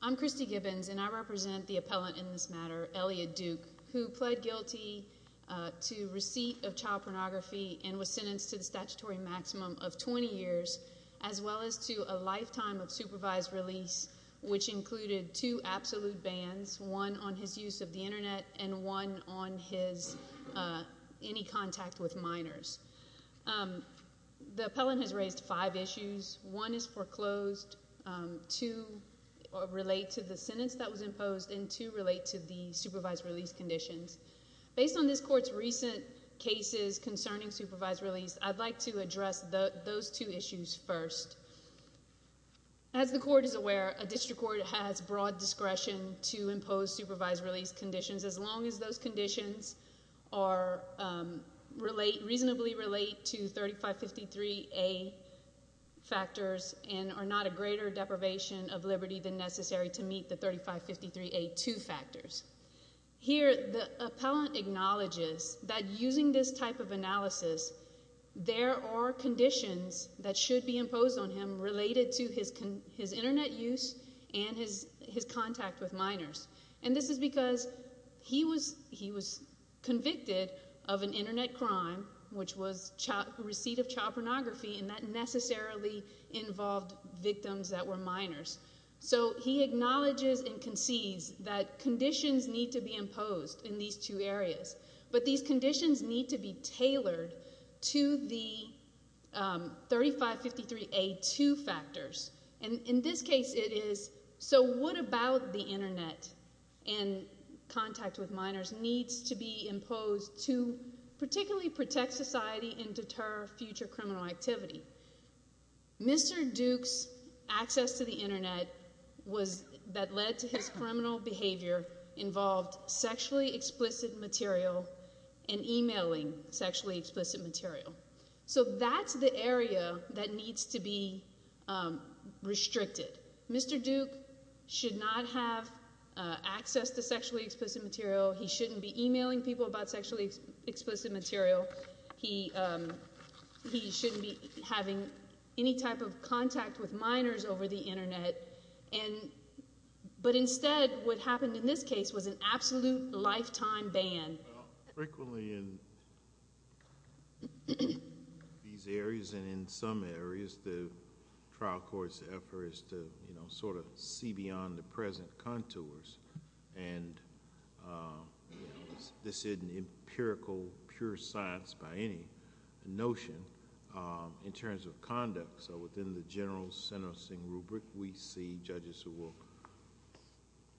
I'm Christy Gibbons, and I represent the appellant in this matter, Elliott Duke, who pled guilty to receipt of child pornography and was sentenced to the statutory maximum of 20 years, as well as to a lifetime of supervised release, which included two absolute bans, one on his use of the Internet, and one on his any contact with minors. The appellant has raised five issues. One is foreclosed, two relate to the sentence that was imposed, and two relate to the supervised release conditions. Based on this court's recent cases concerning supervised release, I'd like to address those two issues first. As the court is aware, a district court has broad discretion to impose supervised release conditions, as long as those conditions are reasonably relate to 3553A factors and are not a greater deprivation of liberty than necessary to meet the 3553A2 factors. Here, the appellant acknowledges that using this type of analysis, there are conditions that should be imposed on him related to his Internet use and his contact with minors. This is because he was convicted of an Internet crime, which was receipt of child pornography, and that necessarily involved victims that were minors. He acknowledges and concedes that conditions need to be imposed in these two areas, but these conditions need to be tailored to the 3553A2 factors. In this case, it is, so what about the Internet and contact with minors needs to be imposed to particularly protect society and deter future criminal activity? Mr. Duke's access to the Internet that led to his criminal behavior involved sexually explicit material and emailing sexually explicit material. So that's the area that needs to be restricted. Mr. Duke should not have access to sexually explicit material. He shouldn't be emailing people about sexually explicit material. But instead, what happened in this case was an absolute lifetime ban. Frequently in these areas and in some areas, the trial court's effort is to, you know, sort of see beyond the present contours, and this isn't empirical, pure science by any notion in terms of conduct. So within the general sentencing rubric, we see judges who will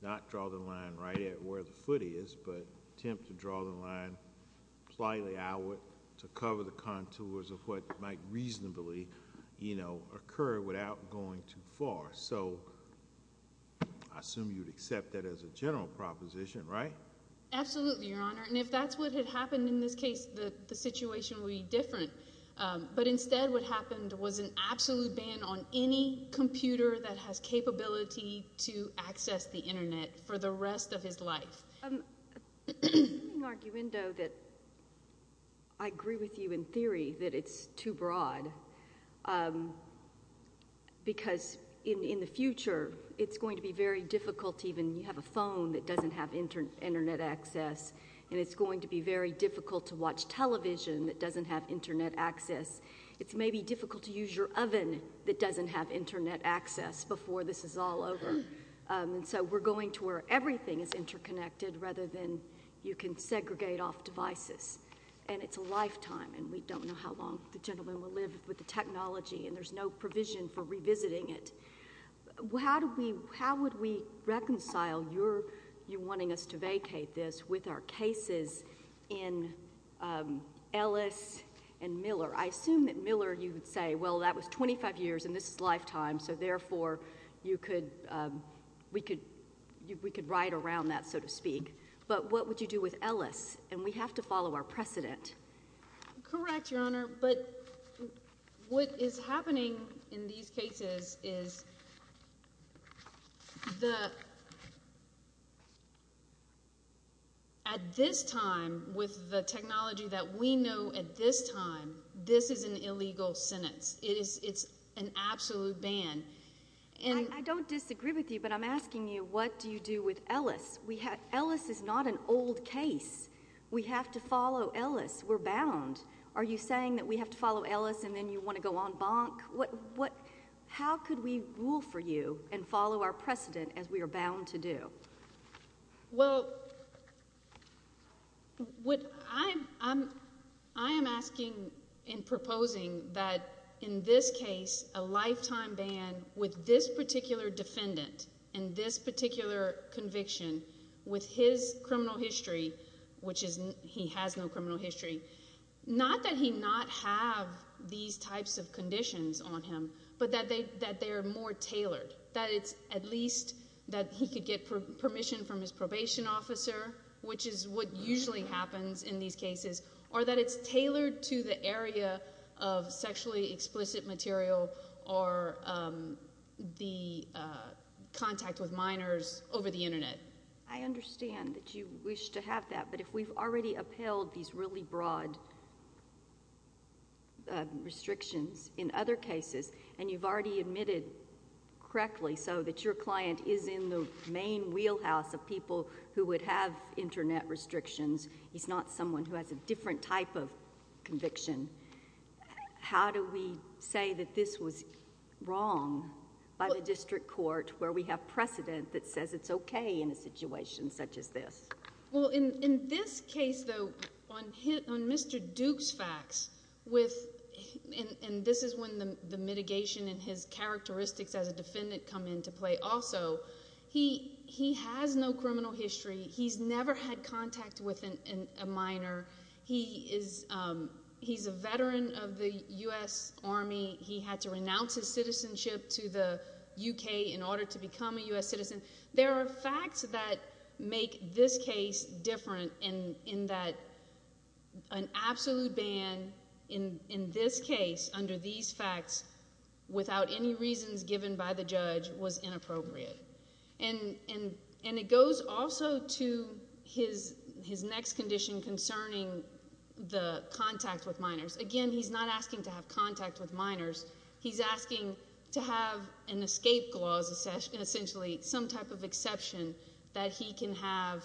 not draw the line right at where the foot is, but attempt to draw the line slightly outward to cover the contours of what might reasonably, you know, occur without going too far. So I assume you'd accept that as a general proposition, right? Absolutely, Your Honor, and if that's what had happened in this case, the situation would be different. But instead, what happened was an absolute ban on any computer that has capability to access the Internet for the rest of his life. I have an argument that I agree with you in theory that it's too broad, because in the future, it's going to be very difficult to even have a phone that doesn't have Internet access, and it's going to be very difficult to watch television that doesn't have Internet access. It's maybe difficult to use your oven that doesn't have Internet access before this is all over. And so we're going to where everything is interconnected rather than you can segregate off devices. And it's a lifetime, and we don't know how long the gentleman will live with the technology, and there's no provision for revisiting it. How would we reconcile your wanting us to vacate this with our cases in Ellis and Miller? I assume that Miller, you would say, well, that was 25 years, and this is a lifetime, so therefore, we could ride around that, so to speak. But what would you do with Ellis? And we have to follow our precedent. Correct, Your Honor, but what is happening in these cases is the, at this time, with the technology that we know at this time, this is an illegal sentence. It is, it's an absolute ban. I don't disagree with you, but I'm asking you, what do you do with Ellis? Ellis is not an old case. We have to follow Ellis. We're bound. Are you saying that we have to follow Ellis, and then you want to go on bonk? What, what, how could we rule for you and follow our precedent as we are bound to do? Well, what I'm, I'm, I am asking and proposing that in this case, a lifetime ban with this particular defendant, and this particular conviction, with his criminal history, which is, he has no criminal history, not that he not have these types of conditions on him, but that they, that they are more tailored, that it's at least that he could get permission from his probation officer, which is what usually happens in these cases, or that it's tailored to the area of sexually explicit material or the contact with minors over the Internet. I understand that you wish to have that, but if we've already upheld these really broad restrictions in other cases, and you've already admitted correctly so that your client is in the main wheelhouse of people who would have Internet restrictions, he's not someone who has a different type of conviction, how do we say that this was wrong by the district court where we have precedent that says it's okay in a situation such as this? Well, in, in this case, though, on his, on Mr. Duke's facts, with, and, and this is when the mitigation and his characteristics as a defendant come into play also, he, he has no criminal history. He's never had contact with a minor. He is, he's a veteran of the U.S. Army. He had to become a U.S. citizen. There are facts that make this case different in, in that an absolute ban in, in this case, under these facts, without any reasons given by the judge, was inappropriate. And it goes also to his, his next condition concerning the contact with minors. Again, he's not asking to have contact with minors. He's asking to have an escape clause, essentially, some type of exception that he can have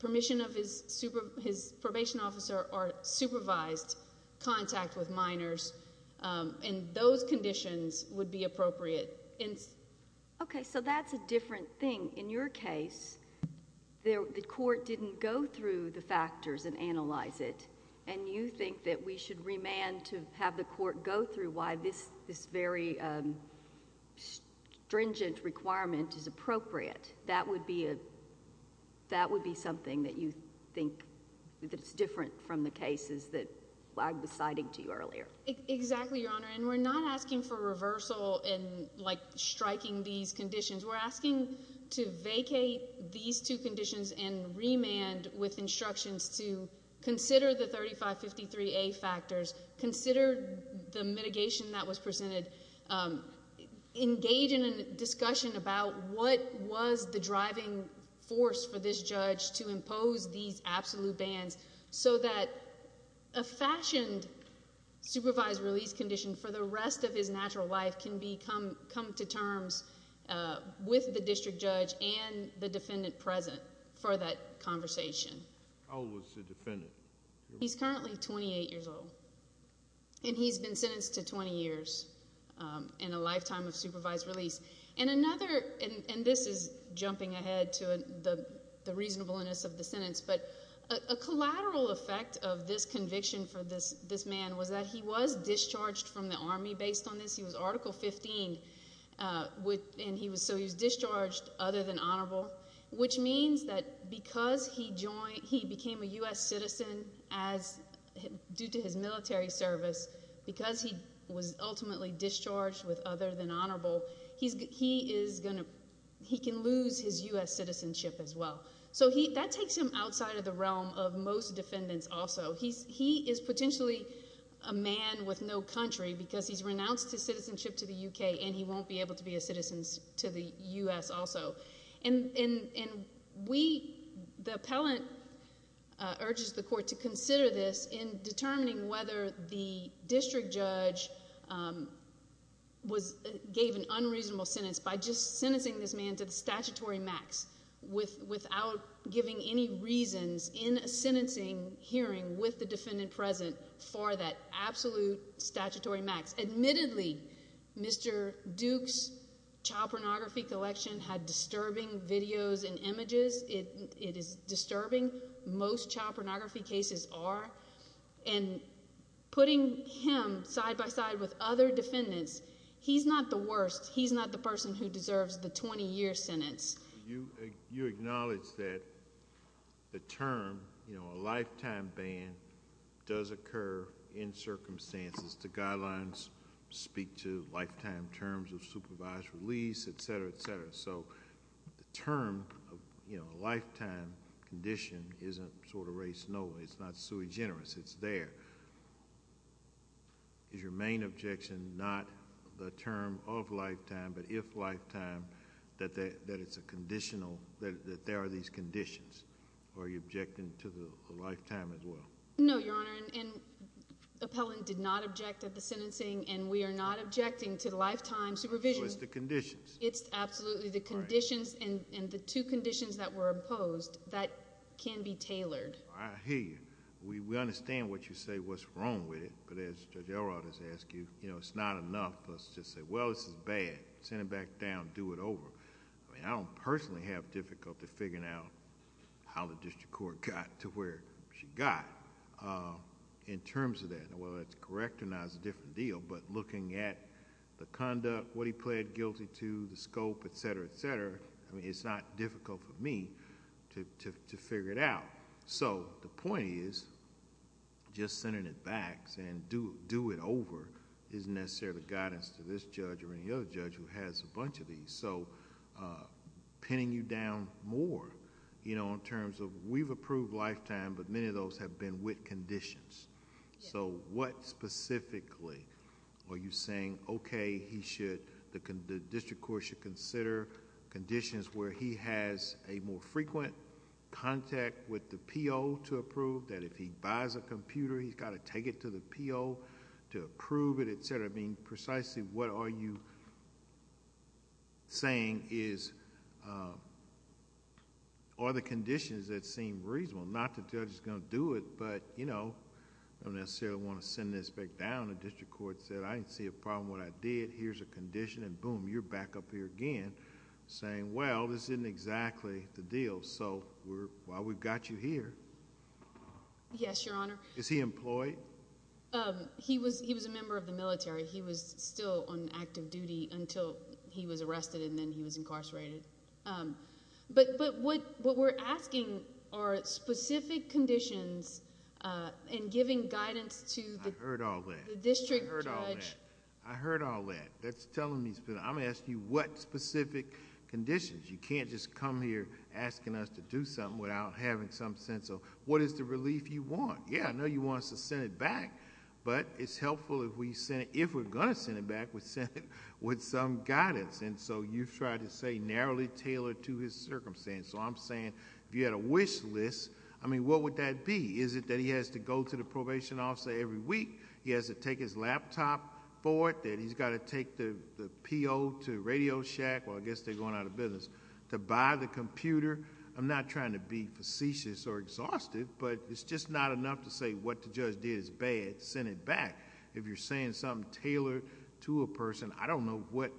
permission of his super, his probation officer or supervised contact with minors, and those conditions would be appropriate in. Okay, so that's a different thing. In your case, there, the court didn't go through the factors and analyze it, and you think that we should remand to have the court go through why this, this very stringent requirement is appropriate. That would be a, that would be something that you think that's different from the cases that I was citing to you earlier. Exactly, Your Honor, and we're not asking for reversal in, like, striking these conditions. We're asking to vacate these two conditions and remand with instructions to consider the 3553A factors, consider the mitigation that was presented, engage in a discussion about what was the driving force for this judge to impose these absolute bans so that a fashioned supervised release condition for the rest of his natural life can be come, come to terms with the district judge and the defendant present for that conversation. How old is the defendant? He's currently 28 years old, and he's been sentenced to 20 years and a lifetime of supervised release, and another, and this is jumping ahead to the reasonableness of the sentence, but a collateral effect of this conviction for this, this man was that he was discharged from the Army based on this. He was Article 15 with, and he was, so he was discharged other than honorable, which means that because he joined, he became a U.S. citizen as, due to his military service, because he was ultimately discharged with other than honorable, he's, he is going to, he can lose his U.S. citizenship as well. So he, that takes him outside of the realm of most defendants also. He's, he is potentially a man with no country because he's renounced his citizenship to the U.K. and he won't be able to be a citizen to the U.S. also. And, and, and we, the appellant urges the court to consider this in determining whether the district judge was, gave an unreasonable sentence by just sentencing this man to the statutory max without giving any reasons in a sentencing hearing with the defendant present for that absolute statutory max. Admittedly, Mr. Duke's child pornography collection had disturbing videos and images. It, it is disturbing. Most child pornography cases are. And putting him side by side with other defendants, he's not the worst. He's not the person who deserves the 20-year sentence. You, you acknowledge that the term, you know, a lifetime ban does occur in circumstances. The guidelines speak to lifetime terms of supervised release, etc., etc. So the term, you know, a lifetime condition isn't sort of race, no, it's not sui generis, it's there. Is your main objection not the term of lifetime, but if lifetime, that, that it's a conditional, that, that there are these conditions? Or are you objecting to the lifetime as well? No, Your Honor, and, and appellant did not object at the sentencing and we are not objecting to lifetime supervision. So it's the conditions. It's absolutely the conditions and, and the two conditions that were imposed that can be tailored. I hear you. We, we understand what you say, what's wrong with it, but as Judge Elrod has asked you, you know, it's not enough for us to say, well, this is bad. Send him back down, do it over. I mean, I don't personally have difficulty figuring out how the district court got to where she got in terms of that. Now, whether that's correct or not is a different deal, but looking at the conduct, what he pled guilty to, the scope, etc., etc., I mean, it's not difficult for me to, to, to figure it out. So the point is, just sending it back and do, do it over isn't necessarily the guidance to this judge or any other judge who has a bunch of these. So pinning you down more, you know, in terms of we've approved lifetime, but many of those have been with conditions. So what specifically are you saying, okay, he should, the, the judge has a more frequent contact with the P.O. to approve, that if he buys a computer, he's got to take it to the P.O. to approve it, etc. I mean, precisely what are you saying is, are the conditions that seem reasonable? Not that the judge is going to do it, but, you know, I don't necessarily want to send this back down. The district court said, I didn't see a problem when I did, here's a condition, and boom, you're back up here again saying, well, this isn't exactly the deal. So we're, well, we've got you here. Yes, Your Honor. Is he employed? He was, he was a member of the military. He was still on active duty until he was arrested, and then he was incarcerated. But, but what, what we're asking are specific conditions and giving guidance to the. I heard all that. The district judge. I heard all that. That's telling me something. I'm asking you what specific conditions. You can't just come here asking us to do something without having some sense of, what is the relief you want? Yeah, I know you want us to send it back, but it's helpful if we send, if we're going to send it back, we send it with some guidance. And so you've tried to say narrowly tailored to his circumstance. So I'm saying, if you had a wish list, I mean, what would that be? Is it that he has to go to the probation officer every week? He has to take his laptop for it? That he's got to take the PO to Radio Shack? Well, I guess they're going out of business to buy the computer. I'm not trying to be facetious or exhausted, but it's just not enough to say what the judge did is bad, send it back. If you're saying something tailored to a person, I don't know what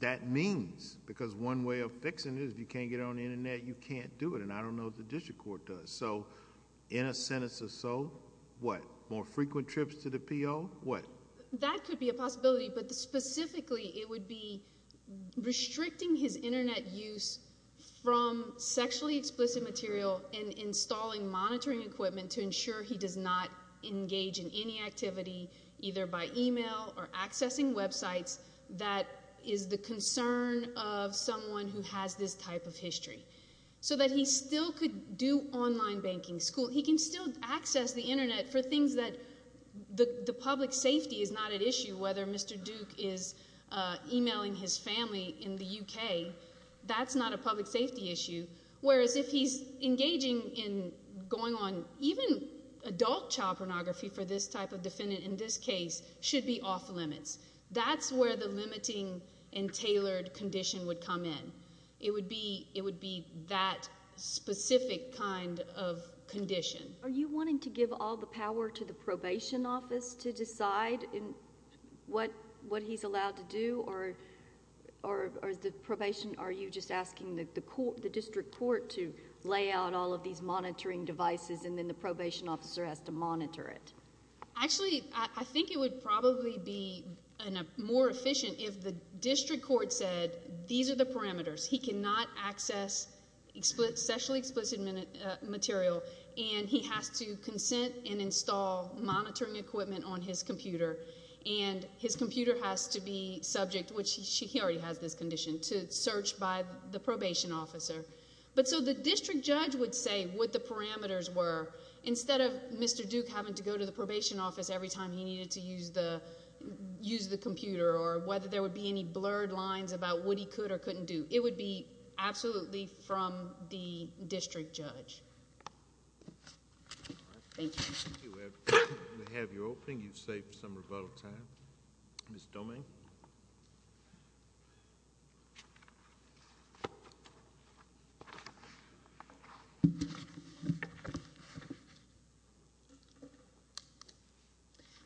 that means. Because one way of fixing it is if you can't get on the internet, you can't do it. And I don't know what the district court does. So in a sentence or so, what? More frequent trips to the PO? What? That could be a possibility, but specifically it would be restricting his internet use from sexually explicit material and installing monitoring equipment to ensure he does not engage in any activity, either by email or accessing websites, that is the concern of online banking. He can still access the internet for things that the public safety is not at issue, whether Mr. Duke is emailing his family in the UK, that's not a public safety issue. Whereas if he's engaging in going on, even adult child pornography for this type of defendant in this case should be off limits. That's where the limiting and tailored condition would come in. It would be that specific kind of condition. Are you wanting to give all the power to the probation office to decide what he's allowed to do? Or is the probation, are you just asking the district court to lay out all of these monitoring devices and then the probation officer has to monitor it? Actually, I think it would probably be more efficient if the district court said these are the parameters. He cannot access sexually explicit material and he has to consent and install monitoring equipment on his computer and his computer has to be subject, which he already has this condition, to search by the probation officer. But so the district judge would say what the parameters were instead of Mr. Duke having to go to the probation office every time he needed to use the computer or whether there would be any blurred lines about what he could or couldn't do. It would be absolutely from the district judge. Thank you. We have your opening. You've saved some rebuttal time. Ms. Domingue?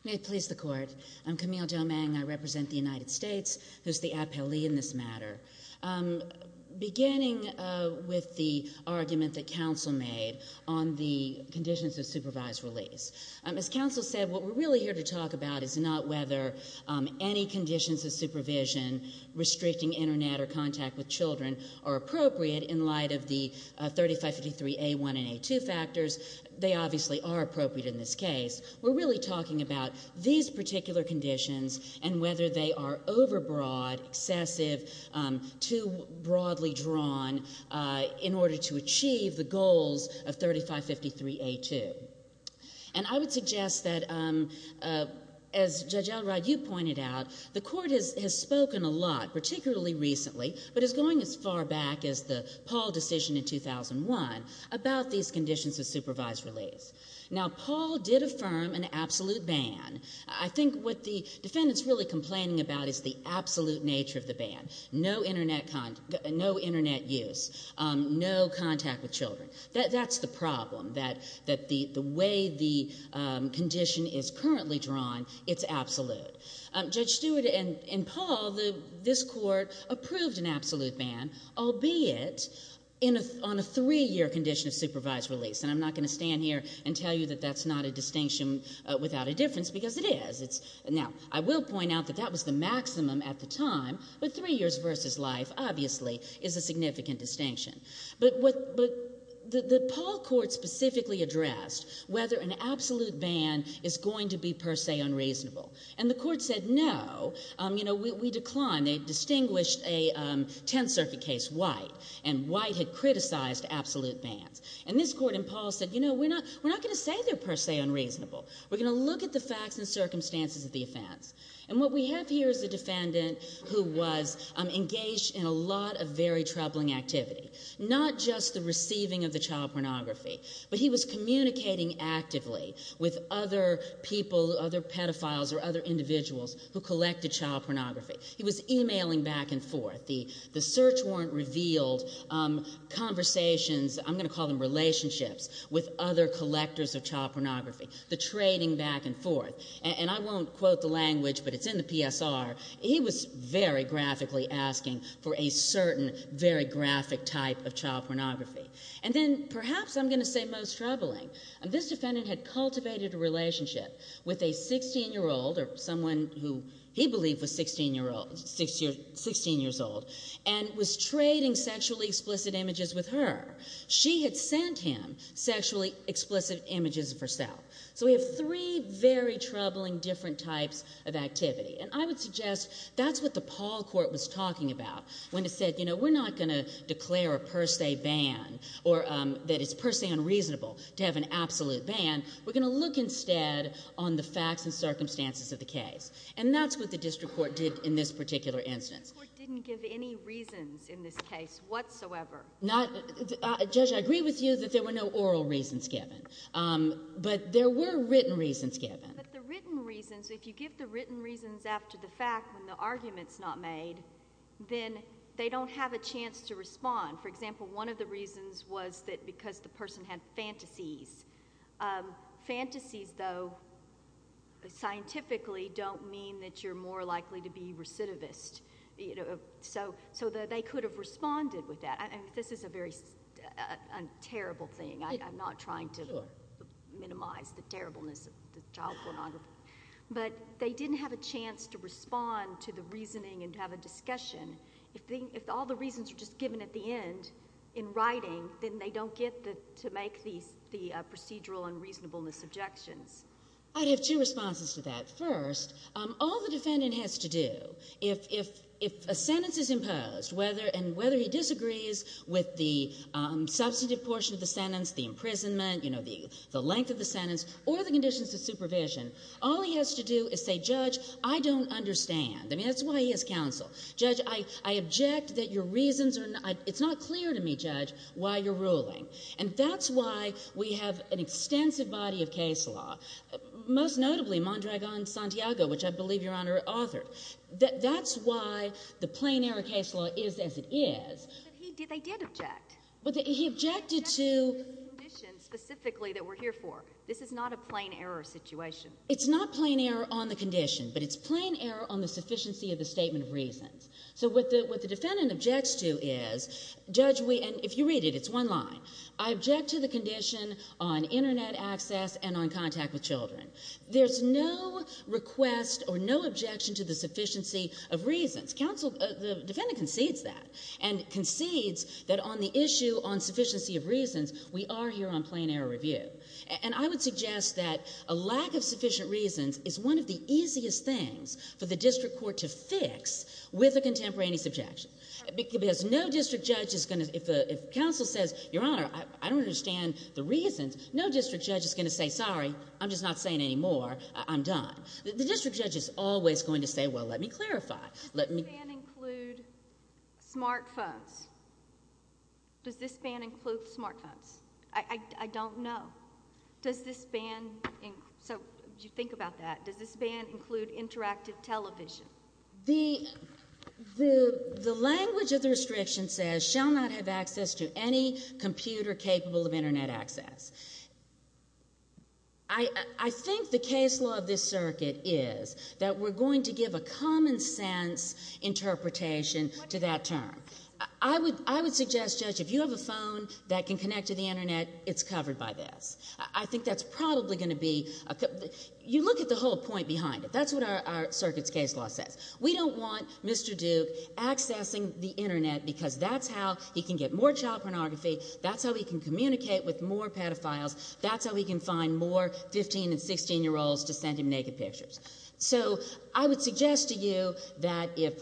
May it please the Court. I'm Camille Domingue. I represent the United States, who's the appellee in this matter. Beginning with the argument that counsel made on the conditions of supervised release. As counsel said, what we're really here to talk about is not whether any conditions of supervision restricting internet or contact with children are appropriate in light of the 3553A1 and A2 factors. They obviously are appropriate in this case. We're really talking about these particular conditions and whether they are overbroad, excessive, too broadly drawn in order to achieve the goals of 3553A2. And I would suggest that, as Judge Elrod, you pointed out, the Court has spoken a lot, particularly recently, but is going as far back as the Paul decision in 2001, about these conditions of supervised release. Now, Paul did affirm an absolute ban. I think what the defendant's really complaining about is the absolute nature of the ban. No internet use. No contact with children. That's the problem, that the way the condition is currently drawn, it's absolute. Judge Stewart and Paul, this Court approved an absolute ban, albeit on a three-year condition of supervised release. And I'm not going to stand here and tell you that that's not a distinction without a difference, because it is. Now, I will point out that that was the maximum at the time, but three years versus life, obviously, is a significant distinction. But the Paul Court specifically addressed whether an absolute ban is going to be per se unreasonable. And the Court said no. We declined. They distinguished a Tenth Circuit case, White, and White had criticized absolute bans. And this Court and Paul said, you know, we're not going to say it's per se unreasonable. We're going to look at the facts and circumstances of the offense. And what we have here is a defendant who was engaged in a lot of very troubling activity. Not just the receiving of the child pornography, but he was communicating actively with other people, other pedophiles, or other individuals who collected child pornography. He was emailing back and forth. The search warrant revealed conversations, I'm going to call them relationships, with other collectors of child pornography. The trading back and forth. And I won't quote the language, but it's in the PSR. He was very graphically asking for a certain, very graphic type of child pornography. And then perhaps I'm going to say most troubling. This defendant had cultivated a relationship with a 16-year-old, or someone who he believed was 16 years old, and was trading sexually explicit images with her. She had sent him sexually explicit images of herself. So we have three very troubling different types of activity. And I would suggest that's what the Paul Court was talking about when it said, you know, we're not going to declare a per se ban, or that it's per se unreasonable to have an absolute ban. We're going to look instead on the facts and circumstances of the case. And that's what the District Court did in this particular instance. The District Court didn't give any reasons in this case whatsoever. Not, Judge, I agree with you that there were no oral reasons given. But there were written reasons given. But the written reasons, if you give the written reasons after the fact, when the argument's not made, then they don't have a chance to respond. For example, one of the reasons was that because the person had fantasies. Fantasies, though, scientifically don't mean that you're more likely to be recidivist. So they could have responded with that. This is a very terrible thing. I'm not trying to minimize the terribleness of the child pornography. But they didn't have a chance to respond to the reasoning and to have a discussion. If all the reasons are just given at the end in writing, then they don't get to make the procedural and reasonableness objections. I'd have two responses to that. First, all the defendant has to do, if a sentence is imposed, whether he disagrees with the substantive portion of the sentence, the imprisonment, the length of the sentence, or the conditions of supervision, all he has to do is say, Judge, I don't understand. I mean, that's why he has counsel. Judge, I object that your reasons are not, it's not clear to me, Judge, why you're ruling. And that's why we have an extensive body of case law, most notably Mondragon-Santiago, which I believe Your Honor authored. That's why the plain error case law is as it is. But he did, they did object. But he objected to... He objected to the conditions specifically that we're here for. This is not a plain error situation. It's not plain error on the condition, but it's plain error on the sufficiency of the statement of reasons. So what the defendant objects to is, Judge, and if you read it, it's one line. I object to the condition on internet access and on contact with children. There's no request or no objection to the sufficiency of reasons. Counsel, the defendant concedes that and concedes that on the issue on sufficiency of reasons, we are here on plain error review. And I would suggest that a lack of sufficient reasons is one of the easiest things for the district court to fix with a contemporaneous objection. Because no district judge is going to, if counsel says, Your Honor, I don't understand the reasons, no district judge is going to say, sorry, I'm just not saying any more. I'm done. The district judge is always going to say, well, let me clarify. Does this ban include smart phones? Does this ban include smart phones? I don't know. Does this ban, so if you think about that, does this ban include interactive television? The language of the restriction says shall not have access to any computer capable of internet access. I think the case law of this circuit is that we're going to give a common sense interpretation to that term. I would suggest, Judge, if you have a phone that can connect to the internet, it's covered by this. I think that's probably going to be, you look at the whole point behind it. That's what our circuit's case law says. We don't want Mr. Duke accessing the internet because that's how he can get more child pornography, that's how he can communicate with more pedophiles, that's how he can find more 15 and 16 year olds to send him naked pictures. So I would suggest to you that if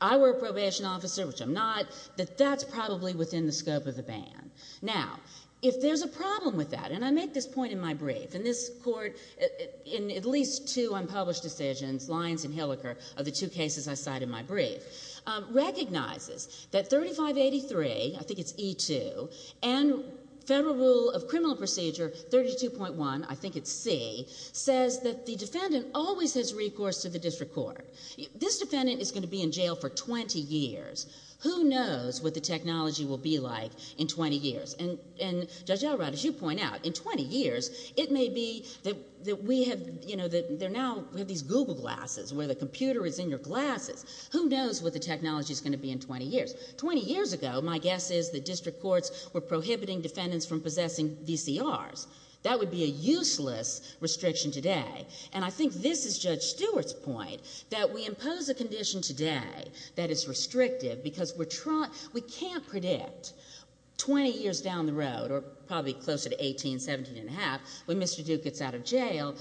I were a probation officer, which I'm not, that that's probably within the scope of the ban. Now, if there's a problem with that, and I make this point in my brief, and this court, in at least two unpublished decisions, Lyons and Hilliker, of the two cases I cite in my brief, recognizes that 3583, I think it's E2, and Federal Rule of Criminal Procedure 32.1, I think it's C, says that the defendant always has recourse to the district court. This defendant is going to be in jail for 20 years. Who knows what the technology will be like in 20 years? And Judge Elrod, as you know, in 20 years, it may be that we have, you know, that they're now, we have these Google glasses, where the computer is in your glasses. Who knows what the technology's going to be in 20 years? Twenty years ago, my guess is that district courts were prohibiting defendants from possessing VCRs. That would be a useless restriction today. And I think this is Judge Stewart's point, that we impose a condition today that is restrictive because we're trying, we can't predict 20 years down the road, or probably closer to 18, 17 and a half, when Mr. Duke gets out of jail,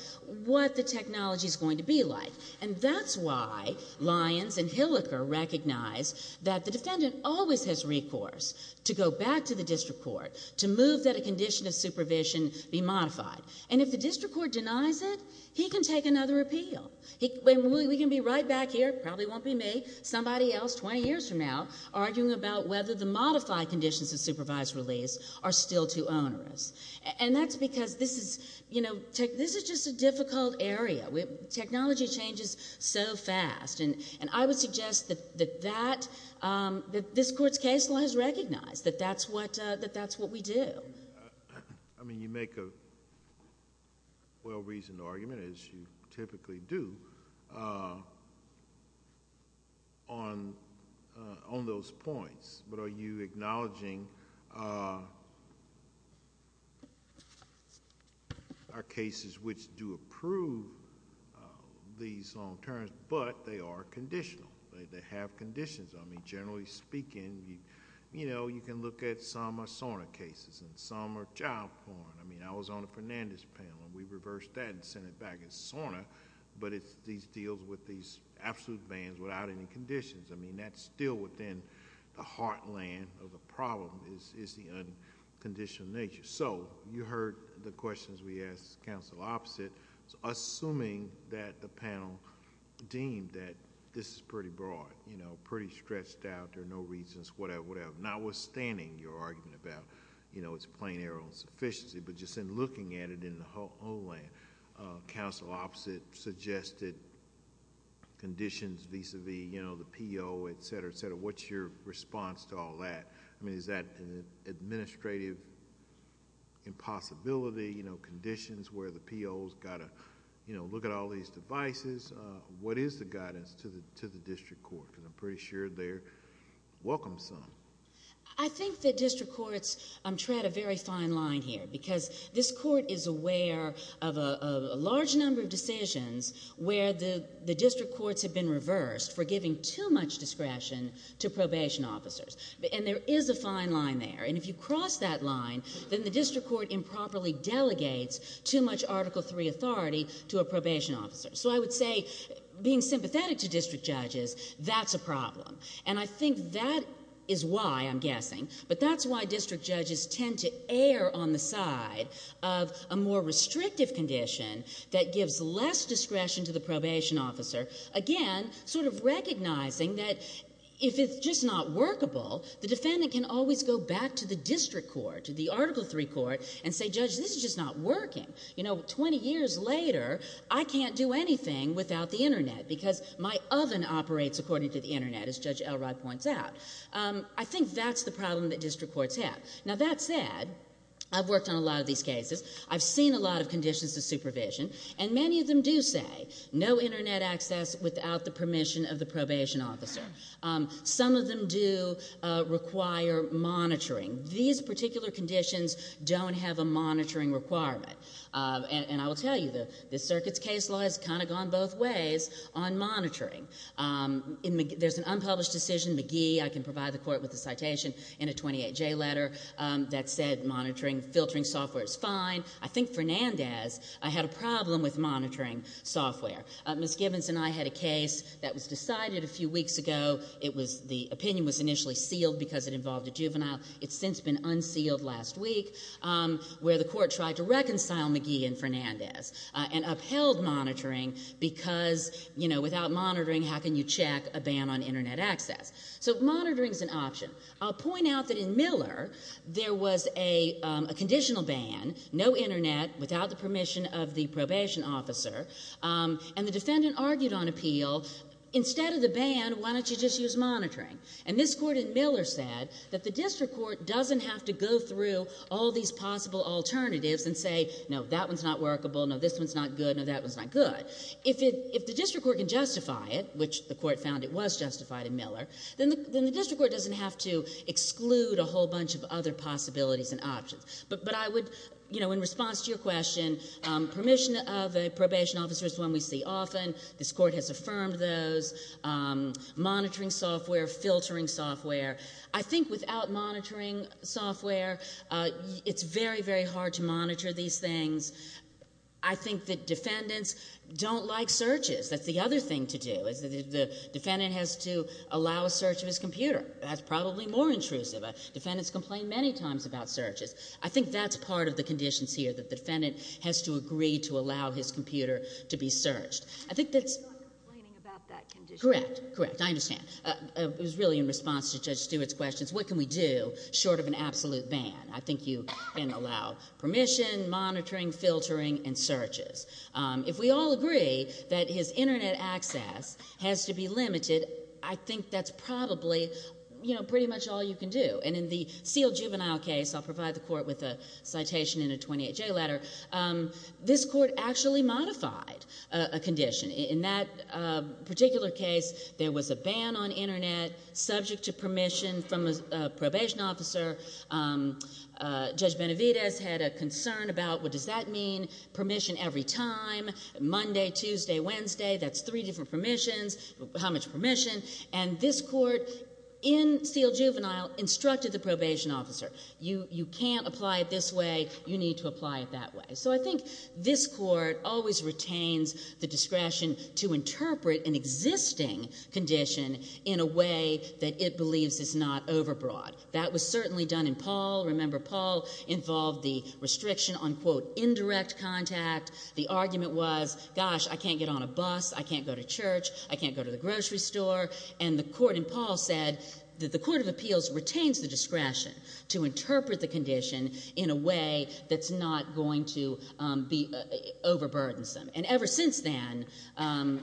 what the technology's going to be like. And that's why Lyons and Hilliker recognize that the defendant always has recourse to go back to the district court to move that a condition of supervision be modified. And if the district court denies it, he can take another appeal. We can be right back here, probably won't be me, somebody else 20 years from now, arguing about whether the modified conditions of supervised release are still too onerous. And that's because this is, you know, this is just a difficult area. Technology changes so fast. And I would suggest that that, that this Court's case law has recognized that that's what, that that's what we do. I mean, you make a well-reasoned argument, as you typically do, on, on those points. But are you acknowledging our cases which do approve these long terms, but they are conditional? They have conditions. I mean, generally speaking, you know, you can look at some SORNA cases, and some are child porn. I mean, I was on the Fernandez panel, and we reversed that and sent it back as SORNA, but it's these deals with these absolute bans without any conditions. I mean, that's still within the heartland of the problem, is, is the unconditional nature. So, you heard the questions we asked, counsel opposite. Assuming that the panel deemed that this is pretty broad, you know, pretty stretched out, there are no reasons, whatever, whatever. Notwithstanding your argument about, you know, it's plain error on sufficiency, but just in looking at it in the homeland, counsel opposite suggested conditions vis-a-vis, you know, the PO, etc., etc. What's your response to all that? I mean, is that an administrative impossibility, you know, conditions where the PO's got to, you know, look at all these devices? What is the guidance to the district court? Because I'm pretty sure they're welcome some. I think that district courts tread a very fine line here, because this court is aware of a large number of decisions where the district courts have been reversed for giving too much discretion to probation officers. And there is a fine line there, and if you cross that line, then the district court improperly delegates too much Article III authority to a probation officer. So I would say, being sympathetic to district judges, that's a problem. And I think that is why, I'm guessing, but that's why district judges tend to err on the side of a more restrictive condition that gives less discretion to the probation officer. Again, sort of recognizing that if it's just not workable, the defendant can always go back to the district court, to the Article III court, and say, Judge, this is just not workable. I can't do anything without the Internet, because my oven operates according to the Internet, as Judge Elrod points out. I think that's the problem that district courts have. Now, that said, I've worked on a lot of these cases. I've seen a lot of conditions of supervision, and many of them do say, no Internet access without the permission of the probation officer. Some of them do require monitoring. These particular conditions don't have a monitoring requirement. And I will tell you, the circuit's case law has kind of gone both ways on monitoring. There's an unpublished decision, McGee, I can provide the court with a citation in a 28J letter, that said monitoring, filtering software is fine. I think Fernandez had a problem with monitoring software. Ms. Gibbons and I had a case that was decided a few weeks ago. It was, the opinion was initially sealed because it involved a juvenile. It's since been unsealed last week, where the court tried to reconcile McGee and Fernandez, and upheld monitoring, because, you know, without monitoring, how can you check a ban on Internet access? So monitoring's an option. I'll point out that in Miller, there was a conditional ban, no Internet, without the permission of the probation officer, and the defendant argued on appeal, instead of the ban, why don't you just use monitoring? And this court in Miller said that the district court doesn't have to go through all these possible alternatives and say, no, that one's not workable, no, this one's not good, no, that one's not good. If the district court can justify it, which the court found it was justified in Miller, then the district court doesn't have to exclude a whole bunch of other possibilities and options. But I would, you know, in response to your question, permission of a probation officer is one we see often. This court has affirmed those, monitoring software, filtering software. I think without monitoring software, it's very, very hard to monitor these things. I think that defendants don't like searches. That's the other thing to do, is the defendant has to allow a search of his computer. That's probably more intrusive. Defendants complain many times about searches. I think that's part of the conditions here, that the defendant has to agree to allow his computer to be searched. I think that's... He's not complaining about that condition. Correct. Correct. I understand. It was really in response to Judge Stewart's question, what can we do short of an absolute ban? I think you can allow permission, monitoring, filtering, and searches. If we all agree that his Internet access has to be limited, I think that's probably, you know, pretty much all you can do. And in the sealed juvenile case, I'll provide the court with a citation in a 28-J letter, this court actually modified a condition. In that particular case, there was a ban on Internet subject to permission from a probation officer. Judge Benavidez had a concern about, what does that mean? Permission every time, Monday, Tuesday, Wednesday. That's three different permissions. How much permission? And this court said, if you can't apply it this way, you need to apply it that way. So I think this court always retains the discretion to interpret an existing condition in a way that it believes is not overbroad. That was certainly done in Paul. Remember, Paul involved the restriction on, quote, indirect contact. The argument was, gosh, I can't get on a bus. I can't go to church. I can't go to the grocery store. And the court in Paul said that the condition in a way that's not going to be overburdensome. And ever since then,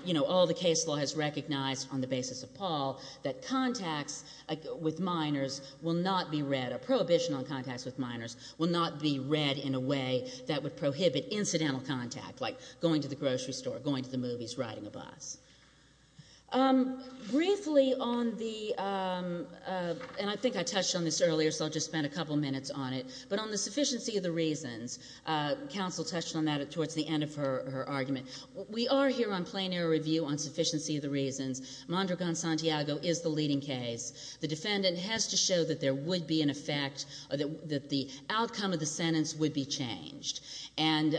you know, all the case law has recognized on the basis of Paul that contacts with minors will not be read, a prohibition on contacts with minors will not be read in a way that would prohibit incidental contact, like going to the grocery store, going to the movies, riding a bus. Briefly on the, and I think I touched on this earlier, so I'll just spend a couple minutes on it, but on the sufficiency of the reasons, counsel touched on that towards the end of her argument. We are here on plain error review on sufficiency of the reasons. Mondragon-Santiago is the leading case. The defendant has to show that there would be an effect, that the outcome of the sentence would be changed. And,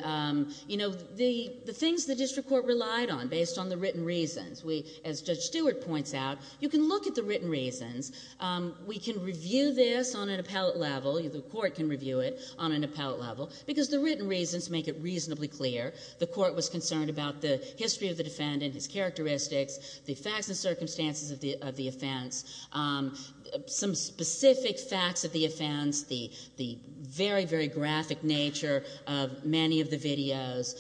you know, the things the district court relied on based on the written reasons. We, as Judge Stewart points out, you can look at the written reasons. We can review this on an appellate level, the court can review it on an appellate level, because the written reasons make it reasonably clear. The court was concerned about the history of the defendant, his characteristics, the facts and circumstances of the offense, some specific facts of the offense, the very, very graphic nature of any of the videos,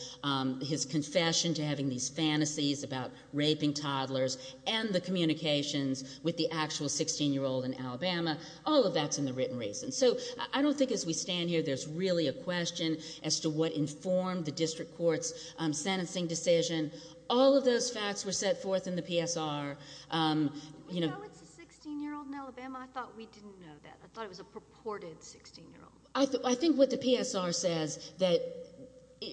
his confession to having these fantasies about raping toddlers, and the communications with the actual 16-year-old in Alabama, all of that's in the written reasons. So I don't think as we stand here there's really a question as to what informed the district court's sentencing decision. All of those facts were set forth in the PSR. Did we know it's a 16-year-old in Alabama? I thought we didn't know that. I thought it was a purported 16-year-old. I think what the PSR says that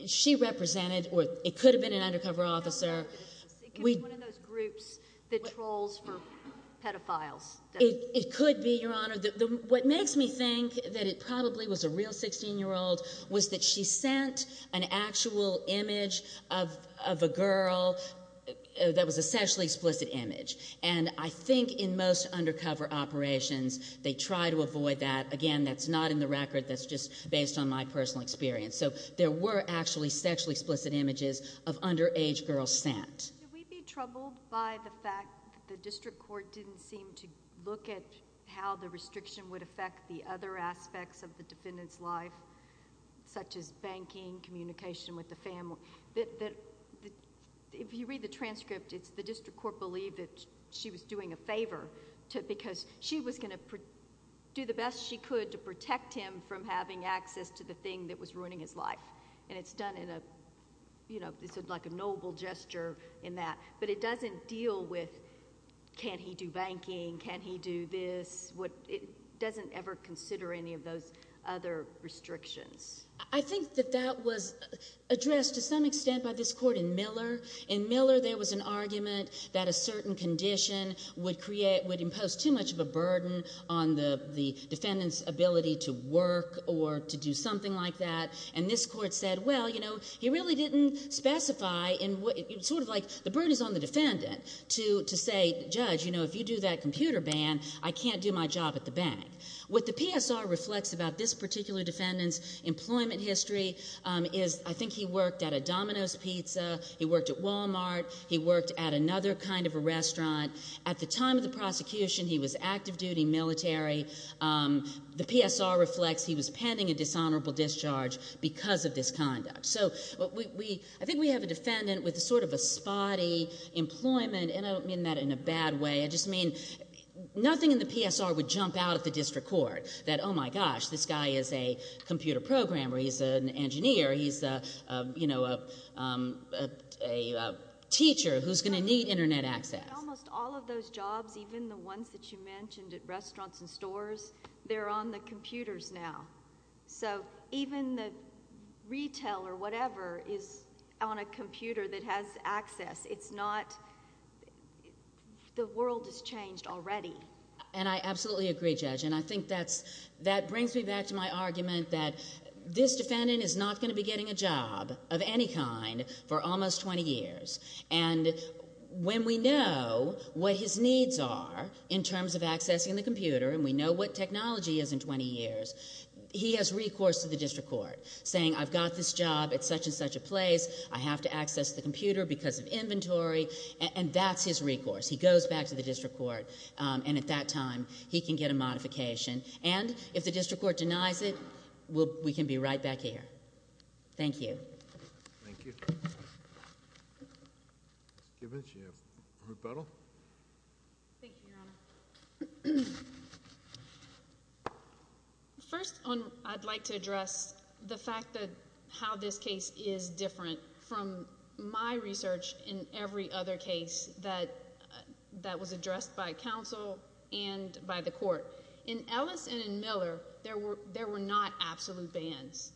she represented, or it could have been an undercover officer. It could be one of those groups that trolls for pedophiles. It could be, Your Honor. What makes me think that it probably was a real 16-year-old was that she sent an actual image of a girl that was a sexually explicit image. And I think in most undercover operations they try to avoid that. Again, that's not in the record. That's just based on my personal experience. So there were actually sexually explicit images of underage girls sent. Did we be troubled by the fact that the district court didn't seem to look at how the restriction would affect the other aspects of the defendant's life, such as banking, communication with the family? If you read the transcript, it's the district court believed that she was doing a favor because she was going to do the best she could to protect him from having access to the thing that was ruining his life. And it's done in a, you know, it's like a noble gesture in that. But it doesn't deal with can he do banking, can he do this. It doesn't ever consider any of those other restrictions. I think that that was addressed to some extent by this court in Miller. In Miller there was an argument that a certain condition would create, would impose too much of a burden on the defendant's ability to work or to do something like that. And this court said, well, you know, he really didn't specify in what, sort of like the burden is on the defendant to say, judge, you know, if you do that computer ban, I can't do my job at the bank. What the PSR reflects about this particular defendant's employment history is I think he worked at a Domino's pizza, he worked at Wal-Mart, he worked at another kind of a restaurant. At the time of the prosecution he was active duty military. The PSR reflects he was pending a dishonorable discharge because of this conduct. So we, I think we have a defendant with sort of a spotty employment, and I don't mean that in a bad way. I just mean nothing in the PSR would jump out at the district court that, oh my gosh, this guy is a computer programmer, he's an engineer, he's a, you know, a teacher who's going to need internet access. Almost all of those jobs, even the ones that you mentioned at restaurants and stores, they're on the computers now. So even the retail or whatever is on a computer that has access. It's not, the world has changed already. And I absolutely agree, Judge, and I think that's, that brings me back to my argument that this defendant is not going to be getting a job of any kind for almost twenty years. And when we know what his needs are in terms of accessing the computer, and we know what technology is in twenty years, he has recourse to the district court saying I've got this job at such and such a place, I have to access the computer because of inventory, and that's his recourse. He goes back to the district court, and at that time, he can get a modification. And if the district court denies it, we can be right back here. Thank you. Thank you. Ms. Gibbons, you have a rebuttal? Thank you, Your Honor. First, I'd like to address the fact that how this case is different from my research in every other case that was addressed by counsel and by the court. In Ellis and in Miller, there were not absolute bans.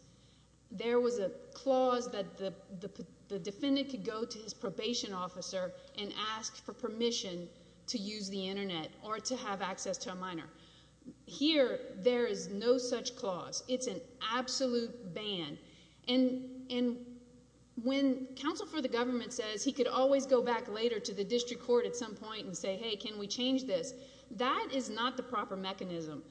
There was a clause that the defendant could go to his probation officer and ask for permission to use the Internet or to have access to a minor. Here, there is no such clause. It's an absolute ban. And my research when counsel for the government says he could always go back later to the district court at some point and say, hey, can we change this, that is not the proper mechanism.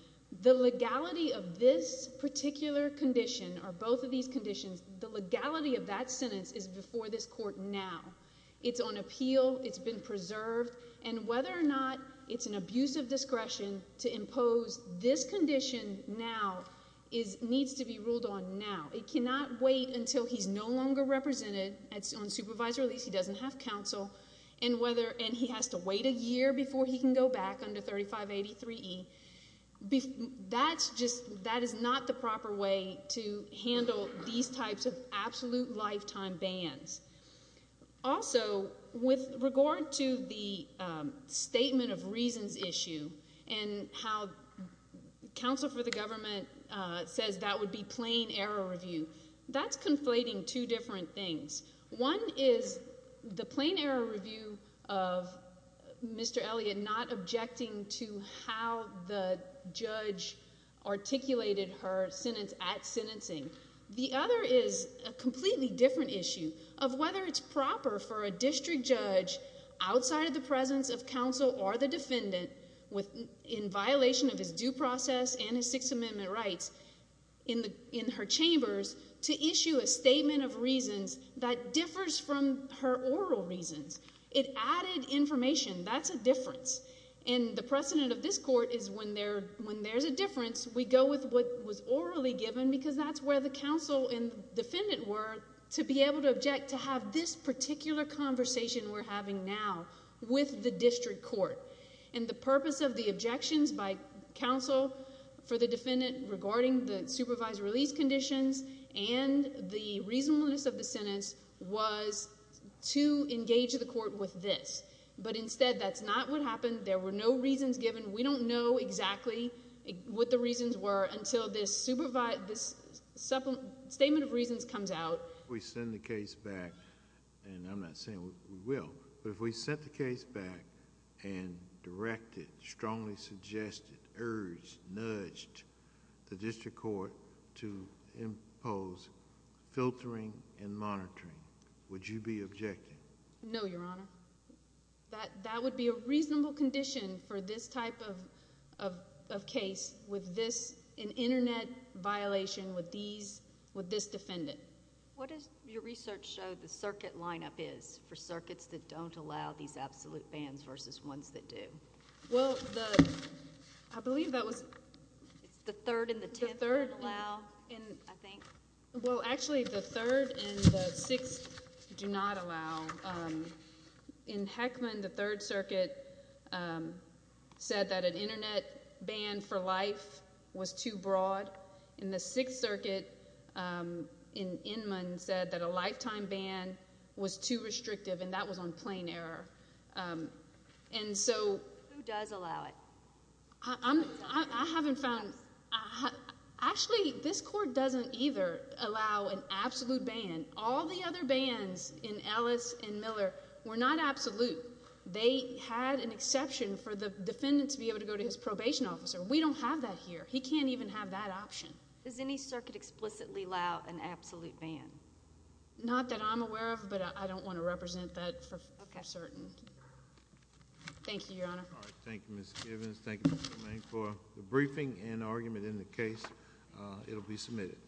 The legality of this particular condition or both of these conditions, the legality of that sentence is before this court now. It's on appeal. It's been preserved. And whether or not it's an abuse of discretion to impose this condition now needs to be ruled on now. It cannot wait until he's no longer represented on supervised release, he doesn't have counsel, and he has to wait a year before he can go back under 3583E. That is not the proper way to handle these types of absolute lifetime bans. Also, with regard to the statement of review, that's conflating two different things. One is the plain error review of Mr. Elliott not objecting to how the judge articulated her sentence at sentencing. The other is a completely different issue of whether it's proper for a district judge outside of the presence of counsel or the defendant in violation of his due process and his Sixth Amendment rights in her chambers to issue a statement of reasons that differs from her oral reasons. It added information. That's a difference. And the precedent of this court is when there's a difference, we go with what was orally given because that's where the counsel and the defendant were to be able to object to have this particular conversation we're having now with the district court. And the purpose of the objections by counsel for the defendant regarding the supervised release conditions and the reasonableness of the sentence was to engage the court with this. But instead, that's not what happened. There were no reasons given. We don't know exactly what the reasons were until this statement of reasons comes out. If we send the case back, and I'm not saying we will, but if we sent the case back and directed, strongly suggested, urged, nudged the district court to impose filtering and monitoring, would you be objecting? No, Your Honor. That would be a reasonable condition for this type of case with this defendant. What does your research show the circuit lineup is for circuits that don't allow these absolute bans versus ones that do? Well, I believe that was... The third and the tenth don't allow, I think? Well, actually, the third and the sixth do not allow. In Heckman, the Third Circuit said that an Internet ban for life was too broad. In the Sixth Circuit, in Inman, said that a lifetime ban was too restrictive, and that was on plain error. Who does allow it? I haven't found... Actually, this court doesn't either allow an absolute ban. All the other courts, including Ellis and Miller, were not absolute. They had an exception for the defendant to be able to go to his probation officer. We don't have that here. He can't even have that option. Does any circuit explicitly allow an absolute ban? Not that I'm aware of, but I don't want to represent that for certain. Thank you, Your Honor. All right. Thank you, Ms. Givens. Thank you, Mr. Lane, for the briefing and argument in the case. It will be submitted.